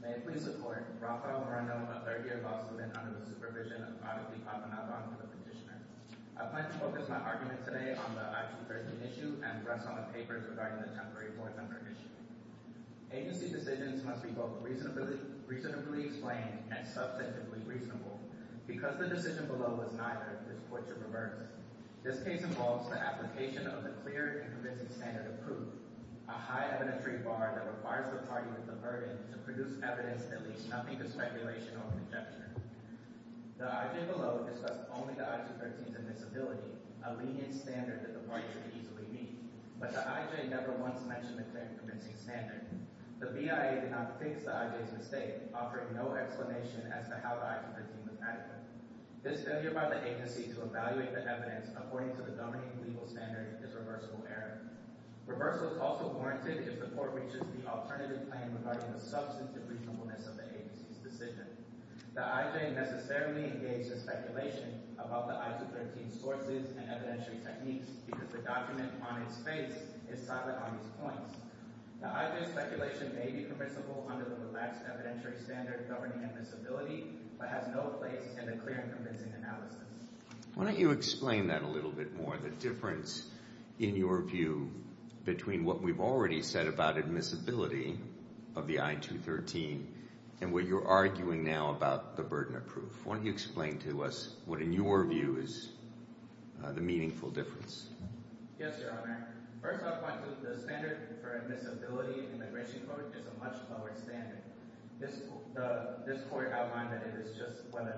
May it please the Court, Rafael Moreno, a third-year law student under the supervision of Dr. Di Papa Navarro, the petitioner. I plan to focus my argument today on the I-213 issue and rest on the papers regarding the temporary 400 issue. Agency decisions must be both reasonably explained and substantively reasonable. Because the decision below was neither, this Court should reverse. This case involves the application of the clear and convincing standard of proof, a high evidentiary bar that requires the party with the burden to produce evidence that leaves nothing to speculation or conjecture. The I.J. below discussed only the I-213's admissibility, a lenient standard that the parties could easily meet. But the I.J. never once mentioned the clear and convincing standard. The BIA did not fix the I.J.'s mistake, offering no explanation as to how the I-213 was adequate. This failure by the Agency to evaluate the evidence according to the dominating legal standard is reversible error. Reversal is also warranted if the Court reaches the alternative plan regarding the substantively reasonableness of the Agency's decision. The I.J. necessarily engaged in speculation about the I-213's sources and evidentiary techniques because the document on its face is silent on these points. The I.J.'s speculation may be permissible under the relaxed evidentiary standard governing admissibility, but has no place in the clear and convincing analysis. Why don't you explain that a little bit more, the difference, in your view, between what we've already said about admissibility of the I-213 and what you're arguing now about the burden of proof. Why don't you explain to us what, in your view, is the meaningful difference? Yes, Your Honor. First, I'll point to the standard for admissibility in the Grisham Court is a much lower standard. This Court outlined that it is just whether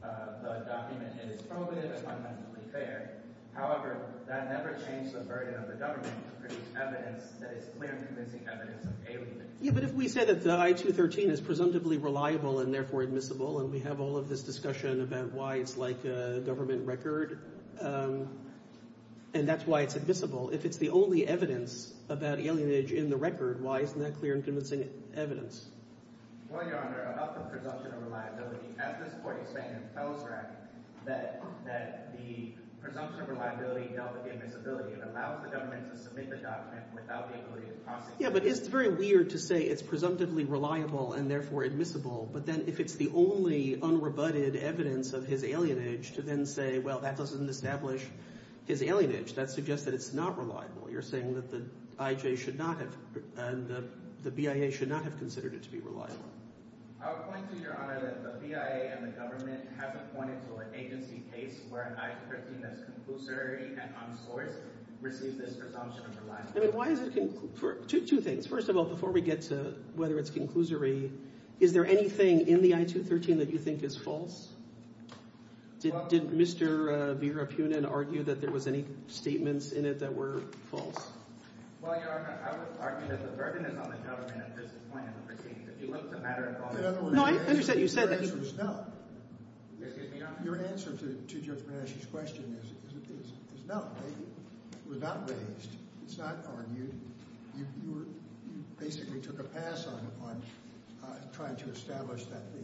the document is probative or substantively fair. However, that never changed the burden of the government to produce evidence that is clear and convincing evidence of alienage. Yeah, but if we say that the I-213 is presumptively reliable and therefore admissible and we have all of this discussion about why it's like a government record and that's why it's admissible, if it's the only evidence about alienage in the record, why isn't that clear and convincing evidence? Well, Your Honor, about the presumption of reliability, as this Court explained in Felsrath, that the presumption of reliability dealt with the admissibility. It allows the government to submit the document without the ability to process it. Yeah, but it's very weird to say it's presumptively reliable and therefore admissible, but then if it's the only unrebutted evidence of his alienage to then say, well, that doesn't establish his alienage. That suggests that it's not reliable. You're saying that the IJ should not have – and the BIA should not have considered it to be reliable. I would point to, Your Honor, that the BIA and the government have appointed to an agency case where an I-213 that's conclusory and unsourced receives this presumption of reliability. I mean, why is it – two things. First of all, before we get to whether it's conclusory, is there anything in the I-213 that you think is false? Did Mr. Virapunin argue that there was any statements in it that were false? Well, Your Honor, I would argue that the burden is on the government at this point in the proceedings. If you look at the matter involving – No, I understand. Your answer is no. Excuse me? Your answer to Judge Manasci's question is no. They were not raised. It's not argued. You basically took a pass on trying to establish that the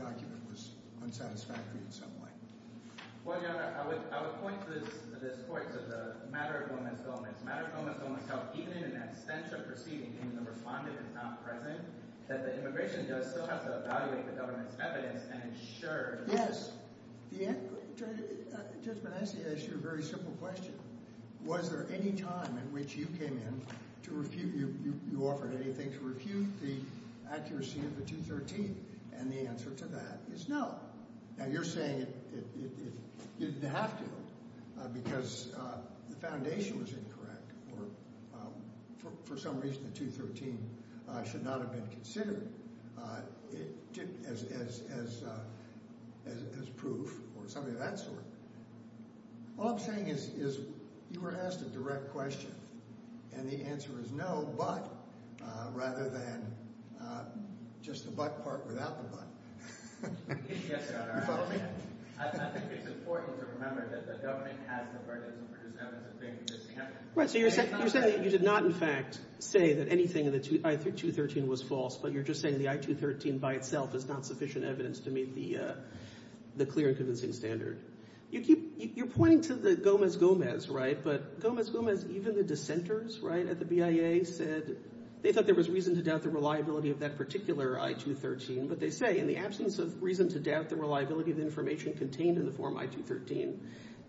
document was unsatisfactory in some way. Well, Your Honor, I would point to this point, to the matter of women's health. The matter of women's health, even in an absentia proceeding, even the respondent is not present, that the immigration does still have to evaluate the government's evidence and ensure – Yes. Judge Manasci, I ask you a very simple question. Was there any time in which you came in to refute – you offered anything to refute the accuracy of the 213? And the answer to that is no. Now, you're saying it didn't have to because the foundation was incorrect or for some reason the 213 should not have been considered as proof or something of that sort. All I'm saying is you were asked a direct question, and the answer is no, but, rather than just the but part without the but. Yes, Your Honor. You follow me? I think it's important to remember that the government has the burden to produce evidence of things that it can't. Right, so you're saying that you did not, in fact, say that anything in the I-213 was false, but you're just saying the I-213 by itself is not sufficient evidence to meet the clear and convincing standard. You keep – you're pointing to the Gomez-Gomez, right, but Gomez-Gomez, even the dissenters, right, at the BIA said they thought there was reason to doubt the reliability of that particular I-213, but they say in the absence of reason to doubt the reliability of the information contained in the Form I-213,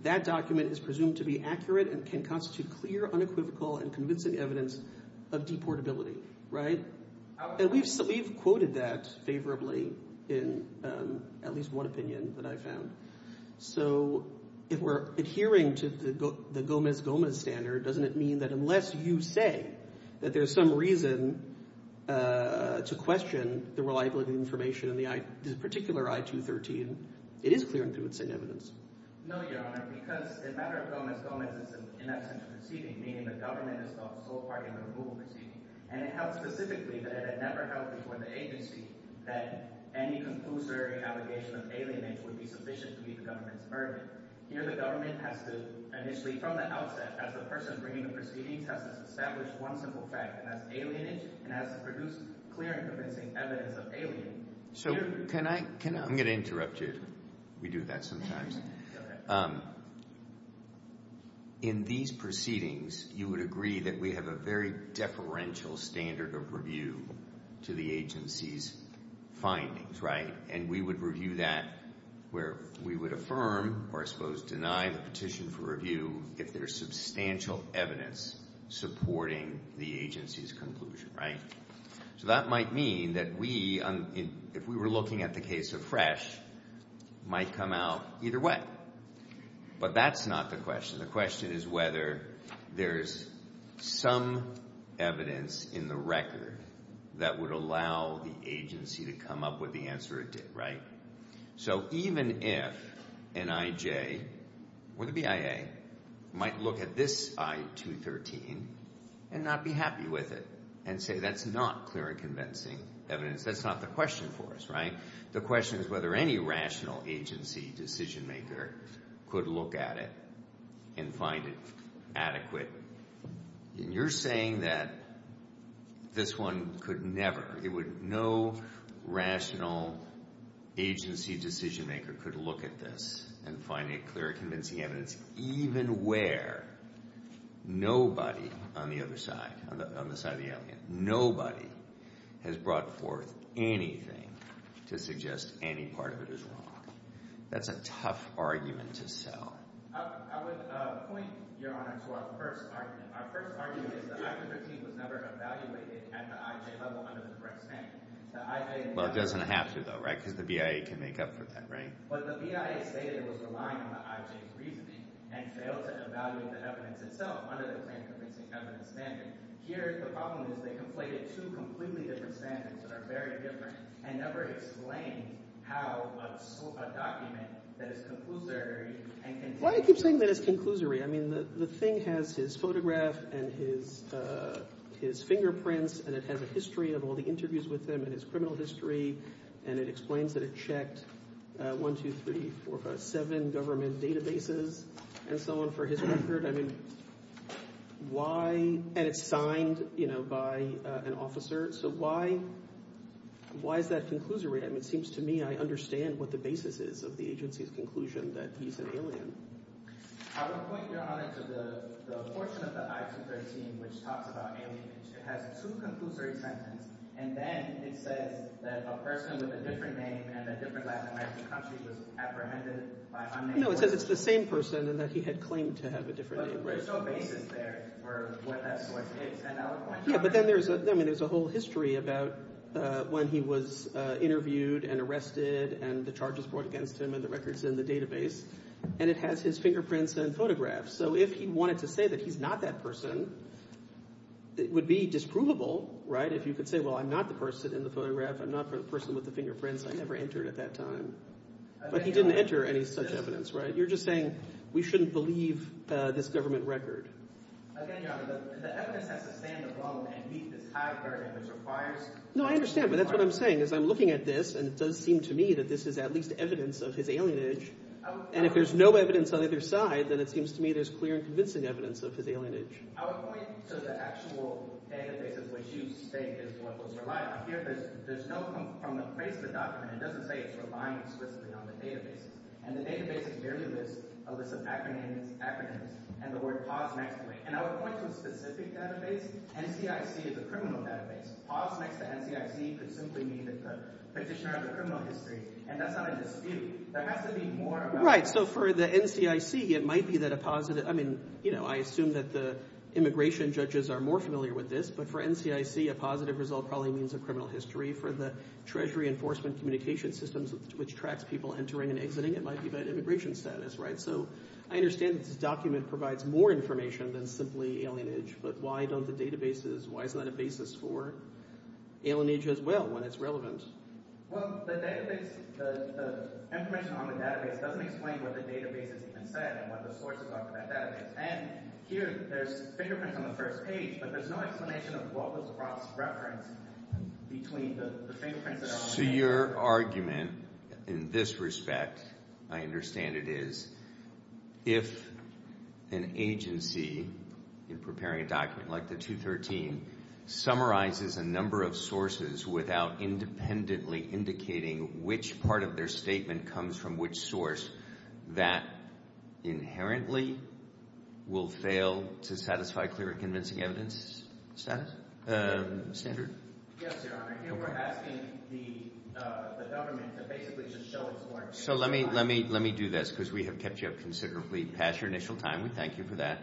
that document is presumed to be accurate and can constitute clear, unequivocal, and convincing evidence of deportability, right? And we've quoted that favorably in at least one opinion that I found. So if we're adhering to the Gomez-Gomez standard, doesn't it mean that unless you say that there's some reason to question the reliability of the information in the particular I-213, it is clear and convincing evidence? No, Your Honor, because the matter of Gomez-Gomez is, in essence, deceiving, meaning the government has thought so far in the removal proceedings, and it held specifically that it had never held before the agency that any conclusory allegation of alienage would be sufficient to meet the government's burden. Here the government has to initially, from the outset, as the person bringing the proceedings, has to establish one simple fact, and that's alienage, and has to produce clear and convincing evidence of alienage. I'm going to interrupt you. We do that sometimes. In these proceedings, you would agree that we have a very deferential standard of review to the agency's findings, right? And we would review that where we would affirm or, I suppose, deny the petition for review if there's substantial evidence supporting the agency's conclusion, right? So that might mean that we, if we were looking at the case of Fresh, might come out either way. But that's not the question. The question is whether there's some evidence in the record that would allow the agency to come up with the answer it did, right? So even if an IJ or the BIA might look at this I-213 and not be happy with it and say that's not clear and convincing evidence, that's not the question for us, right? The question is whether any rational agency decision-maker could look at it and find it adequate. You're saying that this one could never, it would, no rational agency decision-maker could look at this and find it clear and convincing evidence even where nobody on the other side, on the side of the alien, nobody has brought forth anything to suggest any part of it is wrong. That's a tough argument to sell. I would point, Your Honor, to our first argument. Our first argument is that I-213 was never evaluated at the IJ level under the correct standard. Well, it doesn't have to, though, right? Because the BIA can make up for that, right? But the BIA stated it was relying on the IJ's reasoning and failed to evaluate the evidence itself under the plain convincing evidence standard. Here the problem is they conflated two completely different standards that are very different and never explained how a document that is conclusory and can tell you— Why do you keep saying that it's conclusory? I mean the thing has his photograph and his fingerprints, and it has a history of all the interviews with him and his criminal history, and it explains that it checked 1, 2, 3, 4, 5, 7 government databases and so on for his record. I mean why—and it's signed, you know, by an officer. So why is that conclusory? I mean it seems to me I understand what the basis is of the agency's conclusion that he's an alien. I would point, Your Honor, to the portion of the I-213 which talks about alienation. It has two conclusory sentences, and then it says that a person with a different name in a different Latin American country was apprehended by— No, it says it's the same person and that he had claimed to have a different name. But there's no basis there for what that source is, and I would point you— Yeah, but then there's a whole history about when he was interviewed and arrested and the charges brought against him and the records in the database, and it has his fingerprints and photographs. So if he wanted to say that he's not that person, it would be disprovable, right, if you could say, well, I'm not the person in the photograph. I'm not the person with the fingerprints. I never entered at that time. But he didn't enter any such evidence, right? You're just saying we shouldn't believe this government record. Again, Your Honor, the evidence has to stand alone and meet this high barrier that requires— No, I understand, but that's what I'm saying is I'm looking at this, and it does seem to me that this is at least evidence of his alienage. And if there's no evidence on either side, then it seems to me there's clear and convincing evidence of his alienage. I would point to the actual databases which you state is what was relied on. Here there's no—from the place of the document, it doesn't say it's relying explicitly on the databases, and the database is merely a list of acronyms and the word POS next to it. And I would point to a specific database. NCIC is a criminal database. POS next to NCIC could simply mean the Petitioner of the Criminal History, and that's not a dispute. There has to be more about— Right, so for the NCIC, it might be that a positive— I mean, you know, I assume that the immigration judges are more familiar with this, but for NCIC, a positive result probably means a criminal history. For the Treasury Enforcement Communication Systems, which tracks people entering and exiting, it might be about immigration status, right? So I understand that this document provides more information than simply alienage, but why don't the databases—why is that a basis for alienage as well when it's relevant? Well, the database—the information on the database doesn't explain what the database has even said and what the sources are for that database. And here, there's fingerprints on the first page, but there's no explanation of what was Ross's reference between the fingerprints that are on the— So your argument in this respect, I understand it is, if an agency in preparing a document like the 213 summarizes a number of sources without independently indicating which part of their statement comes from which source, that inherently will fail to satisfy clear and convincing evidence standard? Yes, Your Honor. Here, we're asking the government to basically just show its— So let me do this, because we have kept you up considerably past your initial time. We thank you for that.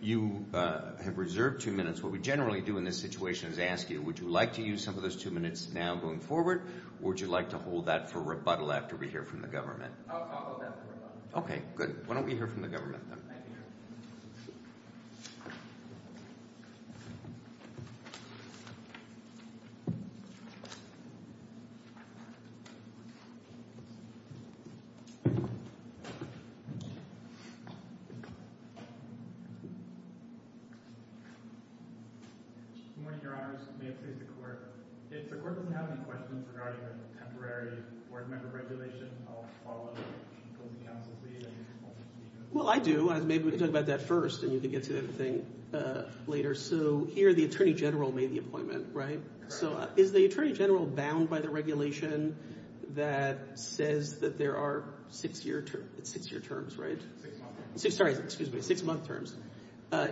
You have reserved two minutes. What we generally do in this situation is ask you, would you like to use some of those two minutes now going forward or would you like to hold that for rebuttal after we hear from the government? I'll hold that for rebuttal. Okay, good. Why don't we hear from the government then? Thank you, Your Honor. Good morning, Your Honors. May it please the Court. If the Court doesn't have any questions regarding the temporary board member regulation, I'll follow up with the closing counsel's lead and— Well, I do. Maybe we can talk about that first and you can get to everything later. So here, the Attorney General made the appointment, right? Correct. So is the Attorney General bound by the regulation that says that there are six-year terms, right? Six-month terms. Sorry, excuse me, six-month terms.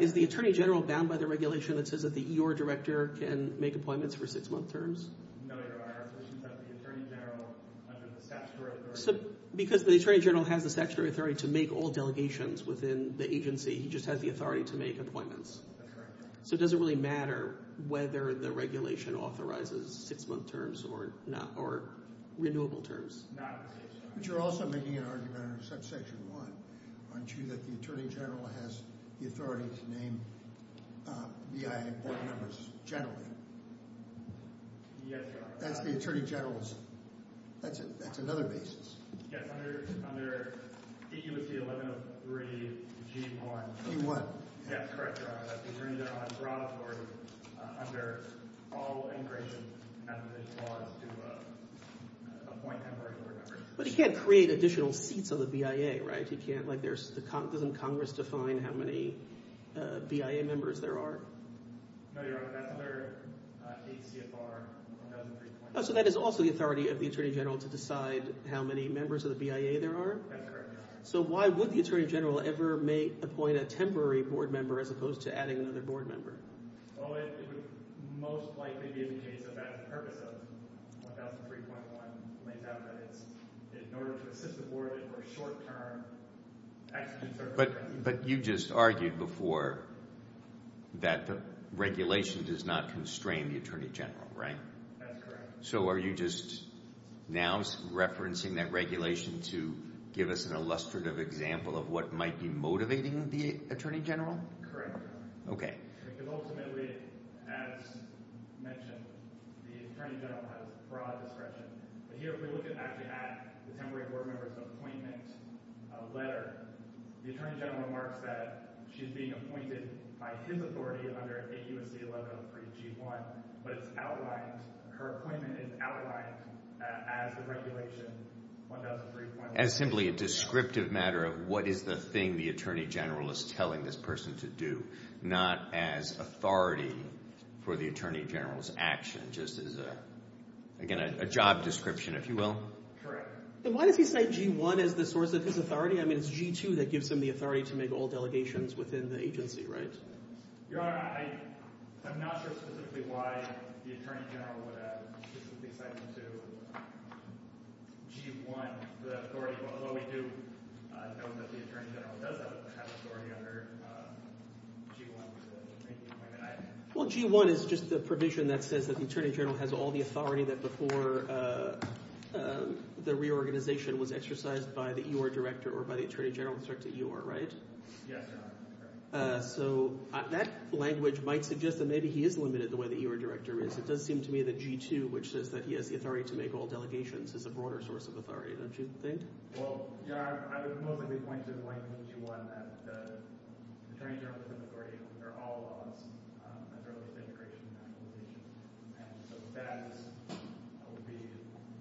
Is the Attorney General bound by the regulation that says that the E.R. director can make appointments for six-month terms? No, Your Honor. The Attorney General under the statutory authority— Because the Attorney General has the statutory authority to make all delegations within the agency. He just has the authority to make appointments. That's correct. So it doesn't really matter whether the regulation authorizes six-month terms or not, or renewable terms. But you're also making an argument under Section 1, aren't you, that the Attorney General has the authority to name BIA board members generally? Yes, Your Honor. That's the Attorney General's—that's another basis. Yes, under D.U.C. 1103 G.1. G.1. Yes, correct, Your Honor. But the Attorney General has broad authority under all immigration laws to appoint temporary board members. But he can't create additional seats on the BIA, right? He can't—doesn't Congress define how many BIA members there are? No, Your Honor. That's another ACFR 1103. So that is also the authority of the Attorney General to decide how many members of the BIA there are? That's correct, Your Honor. So why would the Attorney General ever appoint a temporary board member as opposed to adding another board member? Well, it would most likely be in the case of that purpose of 1003.1. It lays out that it's in order to assist the board in a more short-term— But you just argued before that the regulation does not constrain the Attorney General, right? That's correct. So are you just now referencing that regulation to give us an illustrative example of what might be motivating the Attorney General? Correct, Your Honor. Okay. Because ultimately, as mentioned, the Attorney General has broad discretion. But here we're looking actually at the temporary board member's appointment letter. The Attorney General remarks that she's being appointed by his authority under A.U.C. 1103 G.1. But it's outlined—her appointment is outlined as the regulation, 1003.1. As simply a descriptive matter of what is the thing the Attorney General is telling this person to do, not as authority for the Attorney General's action, just as, again, a job description, if you will? Correct. Then why does he say G.1 as the source of his authority? I mean, it's G.2 that gives him the authority to make all delegations within the agency, right? Your Honor, I'm not sure specifically why the Attorney General would have a specific assignment to G.1, the authority. Although we do know that the Attorney General does have authority under G.1. Well, G.1 is just the provision that says that the Attorney General has all the authority that before the reorganization was exercised by the E.O.R. director or by the Attorney General in respect to E.O.R., right? Yes, Your Honor. So that language might suggest that maybe he is limited the way the E.O.R. director is. It does seem to me that G.2, which says that he has the authority to make all delegations, is a broader source of authority. Don't you think? Well, Your Honor, I would mostly be pointing to point G.1 that the Attorney General is an authority under all laws, as early as immigration and acclimatization. And so that would be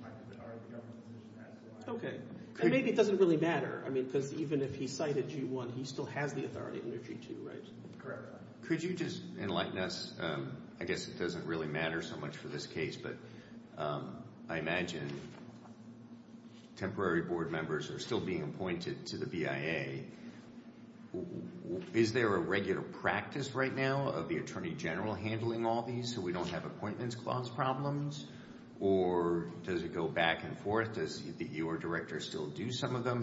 part of the government's position as to why. Okay. And maybe it doesn't really matter because even if he cited G.1, he still has the authority under G.2, right? Correct. Could you just enlighten us? I guess it doesn't really matter so much for this case, but I imagine temporary board members are still being appointed to the BIA. Is there a regular practice right now of the Attorney General handling all these so we don't have appointments clause problems? Or does it go back and forth? Does the E.O.R. director still do some of them?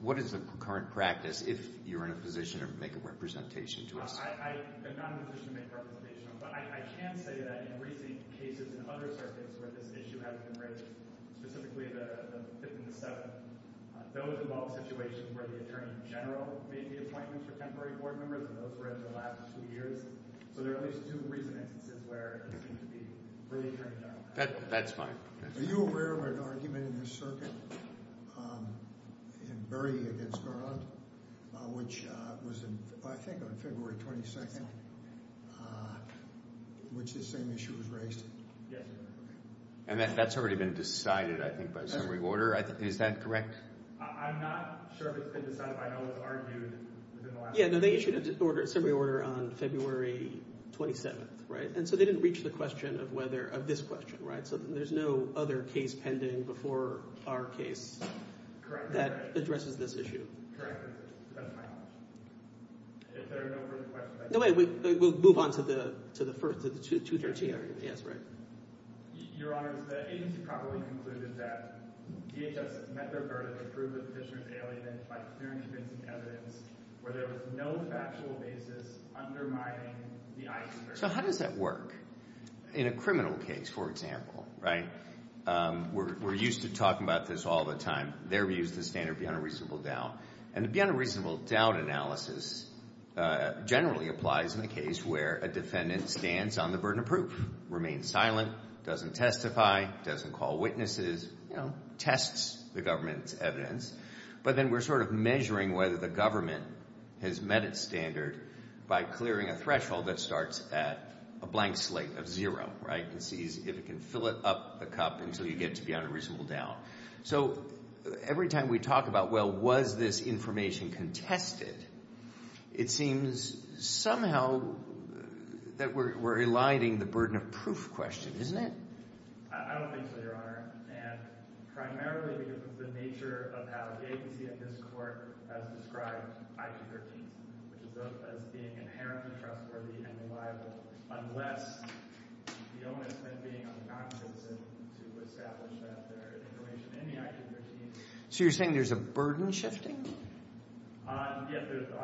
What is the current practice if you're in a position to make a representation to us? I'm not in a position to make a representation, but I can say that in recent cases in other circuits where this issue hasn't been raised, specifically the Fifth and the Seventh, those involve situations where the Attorney General made the appointments for temporary board members, and those were in the last two years. So there are at least two recent instances where it seems to be where the Attorney General has made the appointments. That's fine. Are you aware of an argument in this circuit in Berry v. Garland, which was, I think, on February 22nd, which this same issue was raised? Yes. And that's already been decided, I think, by summary order. Is that correct? I'm not sure if it's been decided, but I know it was argued within the last two years. Yeah, no, they issued a summary order on February 27th, right? And so they didn't reach the question of this question, right? So there's no other case pending before our case that addresses this issue. Correct. That's my knowledge. If there are no further questions, I'd like to move on. No, wait. We'll move on to the first, to the 213 argument. Yes, right. Your Honor, the agency probably concluded that DHS met their burden of proof of petitioner's alienation by clearly convincing evidence where there was no factual basis undermining the eyewitness record. So how does that work? In a criminal case, for example, right? We're used to talking about this all the time. Their view is the standard of the unreasonable doubt. And the unreasonable doubt analysis generally applies in a case where a defendant stands on the burden of proof, remains silent, doesn't testify, doesn't call witnesses, you know, tests the government's evidence. But then we're sort of measuring whether the government has met its standard by clearing a threshold that starts at a blank slate of zero, right? And sees if it can fill it up the cup until you get to the unreasonable doubt. So every time we talk about, well, was this information contested, it seems somehow that we're eliding the burden of proof question, isn't it? I don't think so, Your Honor. So you're saying there's a burden shifting? On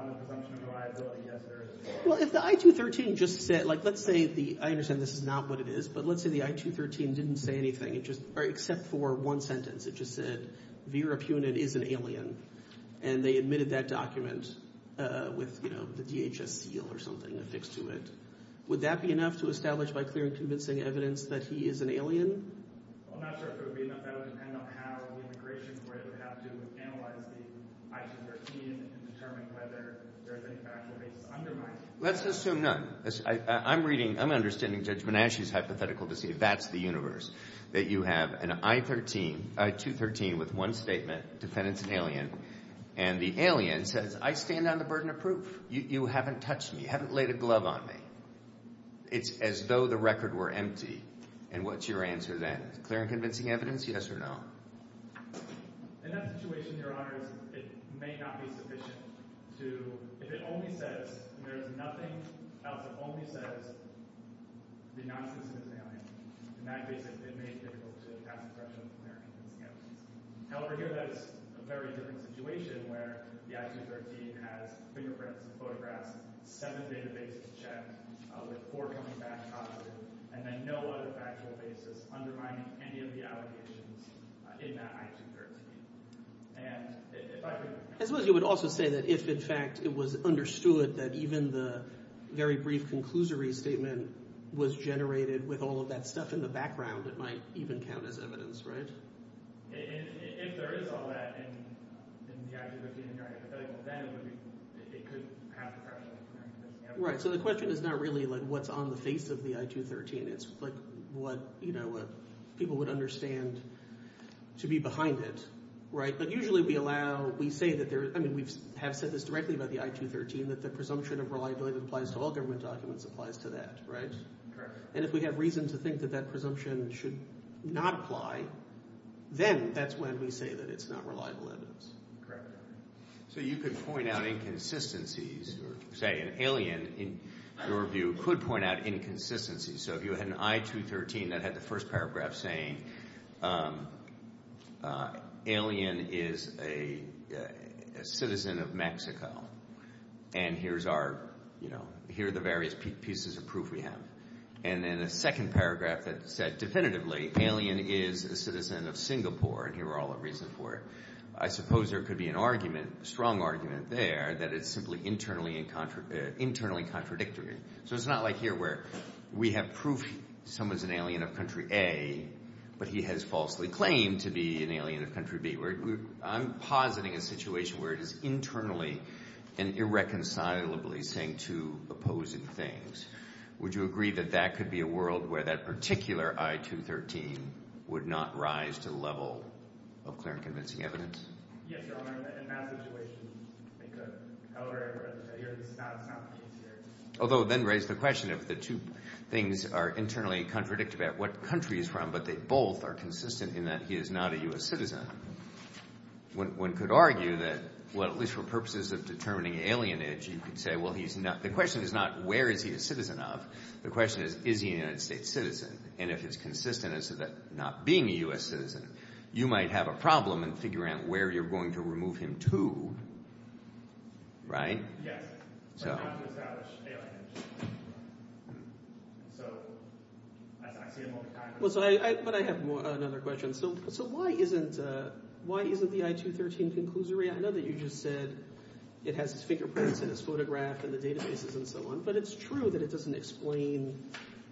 the presumption of reliability, yes, there is. Well, if the I-213 just said, like, let's say the, I understand this is not what it is, but let's say the I-213 didn't say anything, except for one sentence. It just said Vera Punit is an alien. And they admitted that document with, you know, the DHS seal or something affixed to it. Would that be enough to establish by clear and convincing evidence that he is an alien? I'm not sure if it would be enough. That would depend on how the immigration court would have to analyze the I-213 and determine whether there's any factual basis undermining it. Let's assume none. I'm reading, I'm understanding Judge Menasche's hypothetical to see if that's the universe, that you have an I-213 with one statement, defendant's an alien. And the alien says, I stand on the burden of proof. You haven't touched me. You haven't laid a glove on me. It's as though the record were empty. And what's your answer then? Clear and convincing evidence, yes or no? And then no other factual basis undermining any of the allegations in that I-213. And if I could… I suppose you would also say that if, in fact, it was understood that even the very brief conclusory statement was generated with all of that stuff in the background, it might even count as evidence, right? If there is all that in the I-213 in your hypothetical, then it would be – it could have the pressure. Right. So the question is not really what's on the face of the I-213. It's what people would understand to be behind it, right? But usually we allow – we say that there – I mean we have said this directly about the I-213, that the presumption of reliability that applies to all government documents applies to that, right? And if we have reason to think that that presumption should not apply, then that's when we say that it's not reliable evidence. So you could point out inconsistencies or say an alien, in your view, could point out inconsistencies. So if you had an I-213 that had the first paragraph saying alien is a citizen of Mexico and here's our – here are the various pieces of proof we have. And then a second paragraph that said definitively alien is a citizen of Singapore, and here are all the reasons for it. I suppose there could be an argument, a strong argument there that it's simply internally contradictory. So it's not like here where we have proof someone's an alien of country A, but he has falsely claimed to be an alien of country B. I'm positing a situation where it is internally and irreconcilably saying two opposing things. Would you agree that that could be a world where that particular I-213 would not rise to the level of clear and convincing evidence? Yes, Your Honor. In that situation, they could. However, this is not the case here. Although then raise the question of the two things are internally contradictory about what country he's from, but they both are consistent in that he is not a U.S. citizen. One could argue that, well, at least for purposes of determining alienage, you could say, well, he's not – the question is not where is he a citizen of. The question is, is he a United States citizen? And if it's consistent as to that not being a U.S. citizen, you might have a problem in figuring out where you're going to remove him to, right? Yes, but not to establish alienage. So I see him all the time. But I have another question. So why isn't the I-213 conclusory? I know that you just said it has his fingerprints and his photograph and the databases and so on, but it's true that it doesn't explain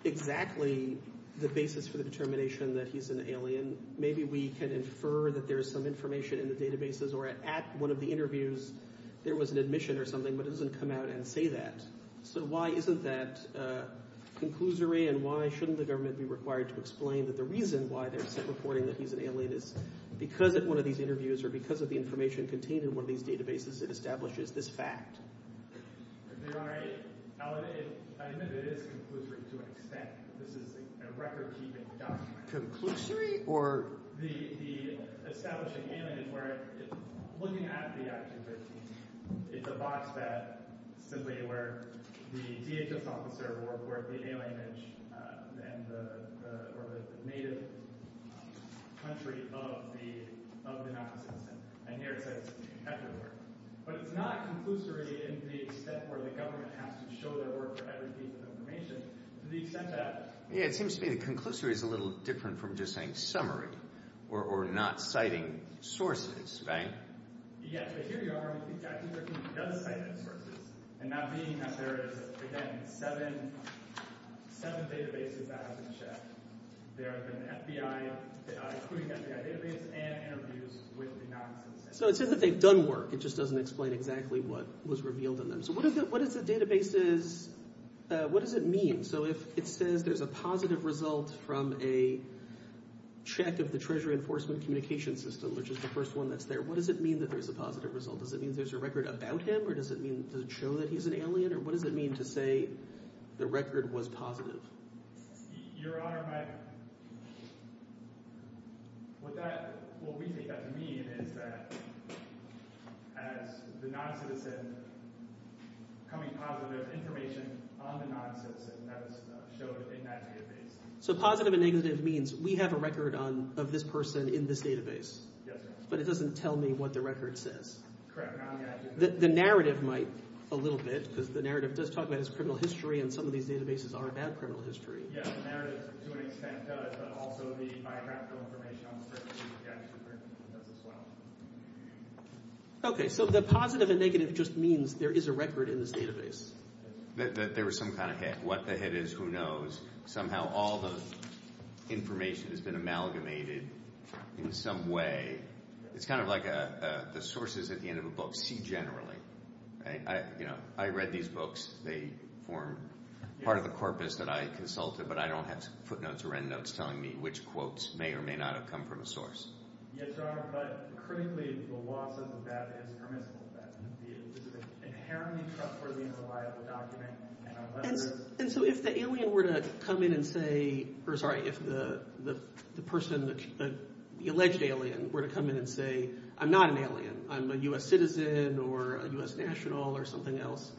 exactly the basis for the determination that he's an alien. Maybe we can infer that there is some information in the databases or at one of the interviews there was an admission or something, but it doesn't come out and say that. So why isn't that conclusory and why shouldn't the government be required to explain that the reason why they're reporting that he's an alien is because at one of these interviews or because of the information contained in one of these databases it establishes this fact? I admit it is conclusory to an extent. This is a record-keeping document. Conclusory or – Establishing alienage where looking at the I-213, it's a box that simply where the DHS officer will report the alienage or the native country of the non-citizen. And here it says, But it's not conclusory in the extent where the government has to show their work for every piece of information to the extent that – Yeah, it seems to me the conclusory is a little different from just saying summary or not citing sources, right? Yes, but here you are with the I-213. It does cite sources and that being that there is, again, seven databases that have been checked. There have been FBI – including FBI database and interviews with the non-citizens. So it says that they've done work. It just doesn't explain exactly what was revealed in them. So what does the databases – what does it mean? So if it says there's a positive result from a check of the Treasury Enforcement Communications System, which is the first one that's there, what does it mean that there's a positive result? Does it mean there's a record about him or does it mean – does it show that he's an alien or what does it mean to say the record was positive? Your Honor, my – what that – what we take that to mean is that as the non-citizen coming positive, there's information on the non-citizen that is shown in that database. So positive and negative means we have a record on – of this person in this database. Yes, Your Honor. But it doesn't tell me what the record says. Correct. The narrative might a little bit because the narrative does talk about his criminal history and some of these databases are about criminal history. Yes, the narrative to an extent does, but also the biographical information on the records that he actually printed does as well. Okay. So the positive and negative just means there is a record in this database. That there was some kind of hit. What the hit is, who knows. Somehow all the information has been amalgamated in some way. It's kind of like the sources at the end of a book. See generally. I read these books. They form part of the corpus that I consulted, but I don't have footnotes or endnotes telling me which quotes may or may not have come from a source. Yes, Your Honor, but critically the law says that that is permissible. That this is an inherently trustworthy and reliable document. And so if the alien were to come in and say, or sorry, if the person, the alleged alien, were to come in and say, I'm not an alien. I'm a U.S. citizen or a U.S. national or something else,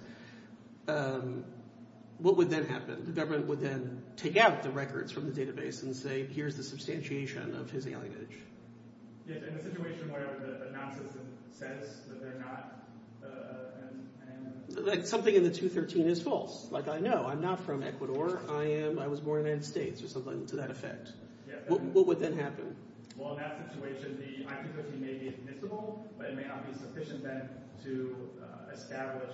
what would then happen? The government would then take out the records from the database and say, here's the substantiation of his alienage. Yes, in a situation where the nonsense says that they're not an alien. Something in the 213 is false. Like, I know, I'm not from Ecuador. I was born in the United States or something to that effect. What would then happen? Well, in that situation, the I-213 may be admissible, but it may not be sufficient then to establish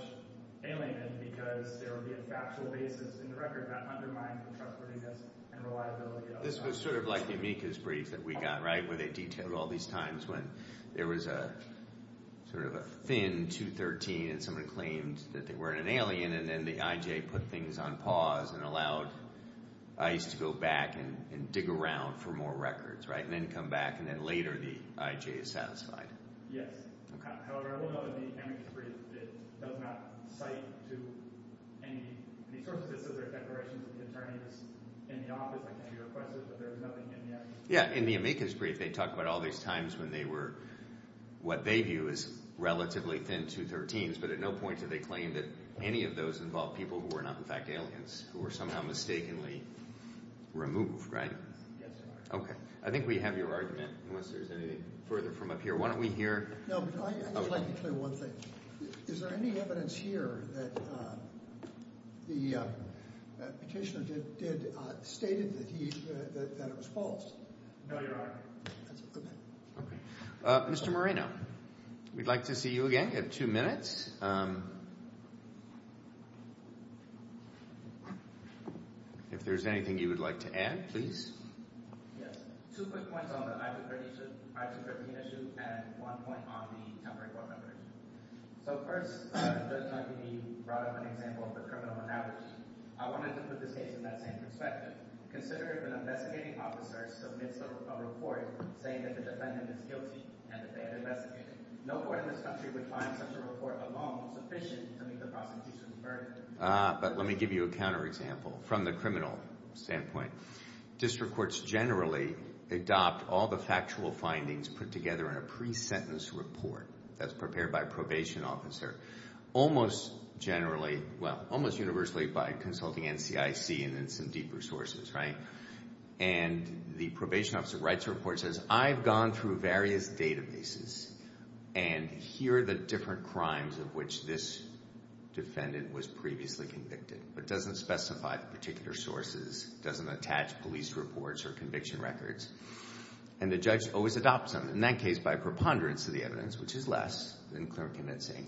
alienation. Because there would be a factual basis in the record that undermined the trustworthiness and reliability. This was sort of like the amicus brief that we got, right? Where they detailed all these times when there was a sort of a thin 213 and someone claimed that they weren't an alien, and then the IJ put things on pause and allowed ICE to go back and dig around for more records, right? And then come back, and then later the IJ is satisfied. Yes. However, I will note in the amicus brief, it does not cite to any sources. It says there are declarations of the attorneys in the office that can be requested, but there is nothing in there. Yeah, in the amicus brief, they talk about all these times when they were what they view as relatively thin 213s, but at no point did they claim that any of those involved people who were not in fact aliens, who were somehow mistakenly removed, right? Yes, sir. Okay. I think we have your argument, unless there's anything further from up here. Why don't we hear— No, but I would like to tell you one thing. Is there any evidence here that the petitioner did—stated that he—that it was false? No, Your Honor. Okay. Mr. Moreno, we'd like to see you again. You have two minutes. If there's anything you would like to add, please. Yes. Two quick points on the I-213 issue and one point on the temporary court members. So first, Judge Montague brought up an example of the criminal on average. I wanted to put this case in that same perspective. Consider if an investigating officer submits a report saying that the defendant is guilty and that they had investigated. No court in this country would find such a report alone sufficient to meet the prosecution's burden. Ah, but let me give you a counterexample from the criminal standpoint. District courts generally adopt all the factual findings put together in a pre-sentence report that's prepared by a probation officer, almost generally—well, almost universally by consulting NCIC and then some deeper sources, right? And the probation officer writes a report and says, I've gone through various databases and here are the different crimes of which this defendant was previously convicted, but doesn't specify the particular sources, doesn't attach police reports or conviction records. And the judge always adopts them, in that case by preponderance of the evidence, which is less than clear and convincing.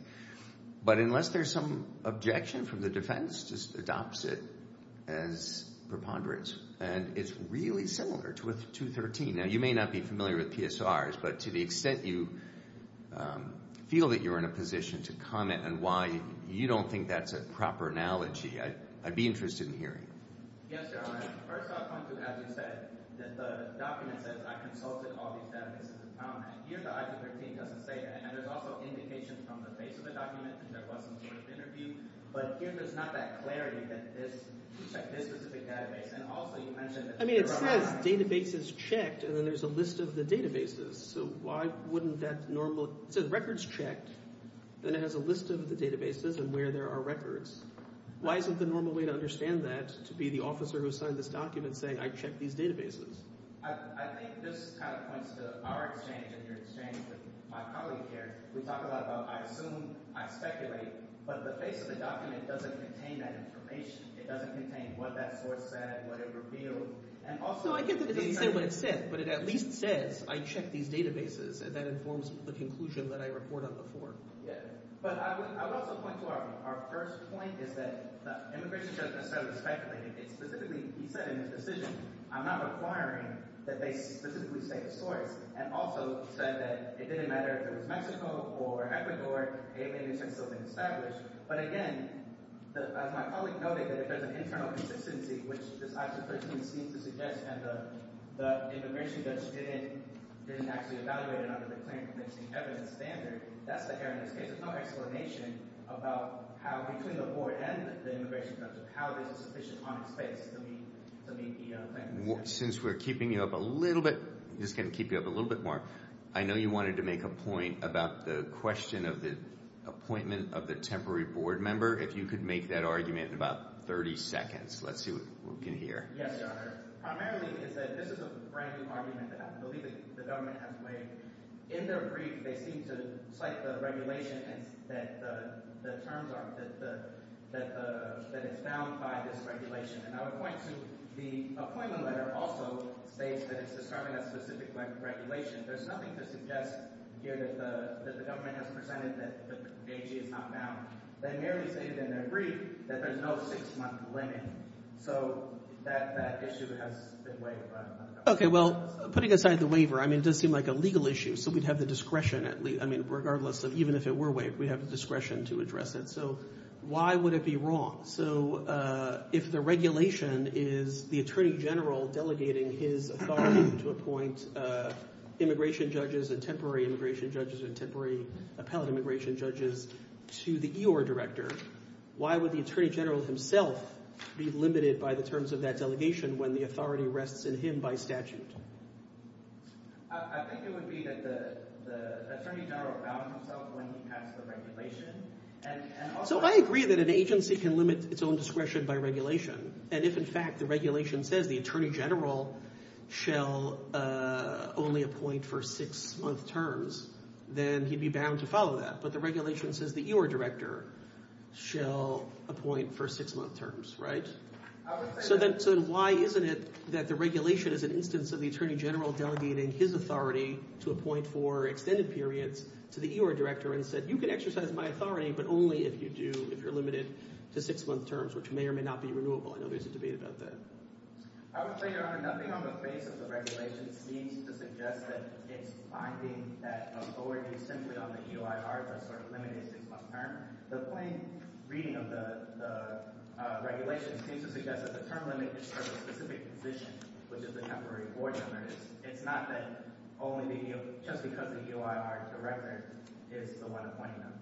But unless there's some objection from the defense, just adopts it as preponderance. And it's really similar to I-213. Now, you may not be familiar with PSRs, but to the extent you feel that you're in a position to comment and why you don't think that's a proper analogy, I'd be interested in hearing. Yes, Your Honor. First off, I want to, as you said, that the document says, I consulted all these databases in town, and here the I-213 doesn't say that. And there's also indication from the base of the document that there was some sort of interview, but here there's not that clarity that this—check this specific database. And also you mentioned that— I mean, it says, database is checked, and then there's a list of the databases. So why wouldn't that normal—it says records checked, then it has a list of the databases and where there are records. Why isn't the normal way to understand that to be the officer who signed this document saying, I checked these databases? I think this kind of points to our exchange and your exchange with my colleague here. We talk a lot about I assume, I speculate, but the face of the document doesn't contain that information. It doesn't contain what that source said, what it revealed. No, I get that it doesn't say what it said, but it at least says, I checked these databases, and that informs the conclusion that I report on the form. But I would also point to our first point is that the immigration judge doesn't necessarily speculate. It specifically—he said in his decision, I'm not requiring that they specifically state a source, and also said that it didn't matter if it was Mexico or Ecuador, it may have been established. But again, as my colleague noted, that if there's an internal consistency, which I simply seem to suggest that the immigration judge didn't actually evaluate it under the claim-convincing evidence standard, that's the error in this case. There's no explanation about how between the board and the immigration judge, how there's a sufficient amount of space to meet the claim-convincing standard. Since we're keeping you up a little bit, just going to keep you up a little bit more, I know you wanted to make a point about the question of the appointment of the temporary board member. If you could make that argument in about 30 seconds, let's see what we can hear. Yes, Your Honor. Primarily is that this is a brand-new argument that I believe the government has made. In their brief, they seem to cite the regulation that the terms are—that it's bound by this regulation. And I would point to the appointment letter also states that it's describing a specific regulation. There's nothing to suggest here that the government has presented that the AG is not bound. They merely stated in their brief that there's no six-month limit. So that issue has been waived by the government. Okay, well, putting aside the waiver, I mean it does seem like a legal issue, so we'd have the discretion at least. I mean regardless of even if it were waived, we'd have the discretion to address it. So why would it be wrong? So if the regulation is the attorney general delegating his authority to appoint immigration judges and temporary immigration judges and temporary appellate immigration judges to the EOR director, why would the attorney general himself be limited by the terms of that delegation when the authority rests in him by statute? I think it would be that the attorney general bound himself when he passed the regulation. So I agree that an agency can limit its own discretion by regulation. And if in fact the regulation says the attorney general shall only appoint for six-month terms, then he'd be bound to follow that. But the regulation says the EOR director shall appoint for six-month terms, right? So then why isn't it that the regulation is an instance of the attorney general delegating his authority to appoint for extended periods to the EOR director and said you can exercise my authority, but only if you do if you're limited to six-month terms, which may or may not be renewable. I know there's a debate about that. I would say, Your Honor, nothing on the face of the regulation seems to suggest that it's binding that authority simply on the EOR to sort of limit a six-month term. The plain reading of the regulation seems to suggest that the term limit is for a specific position, which is the temporary board member. It's not that just because the EOR director is the one appointing them.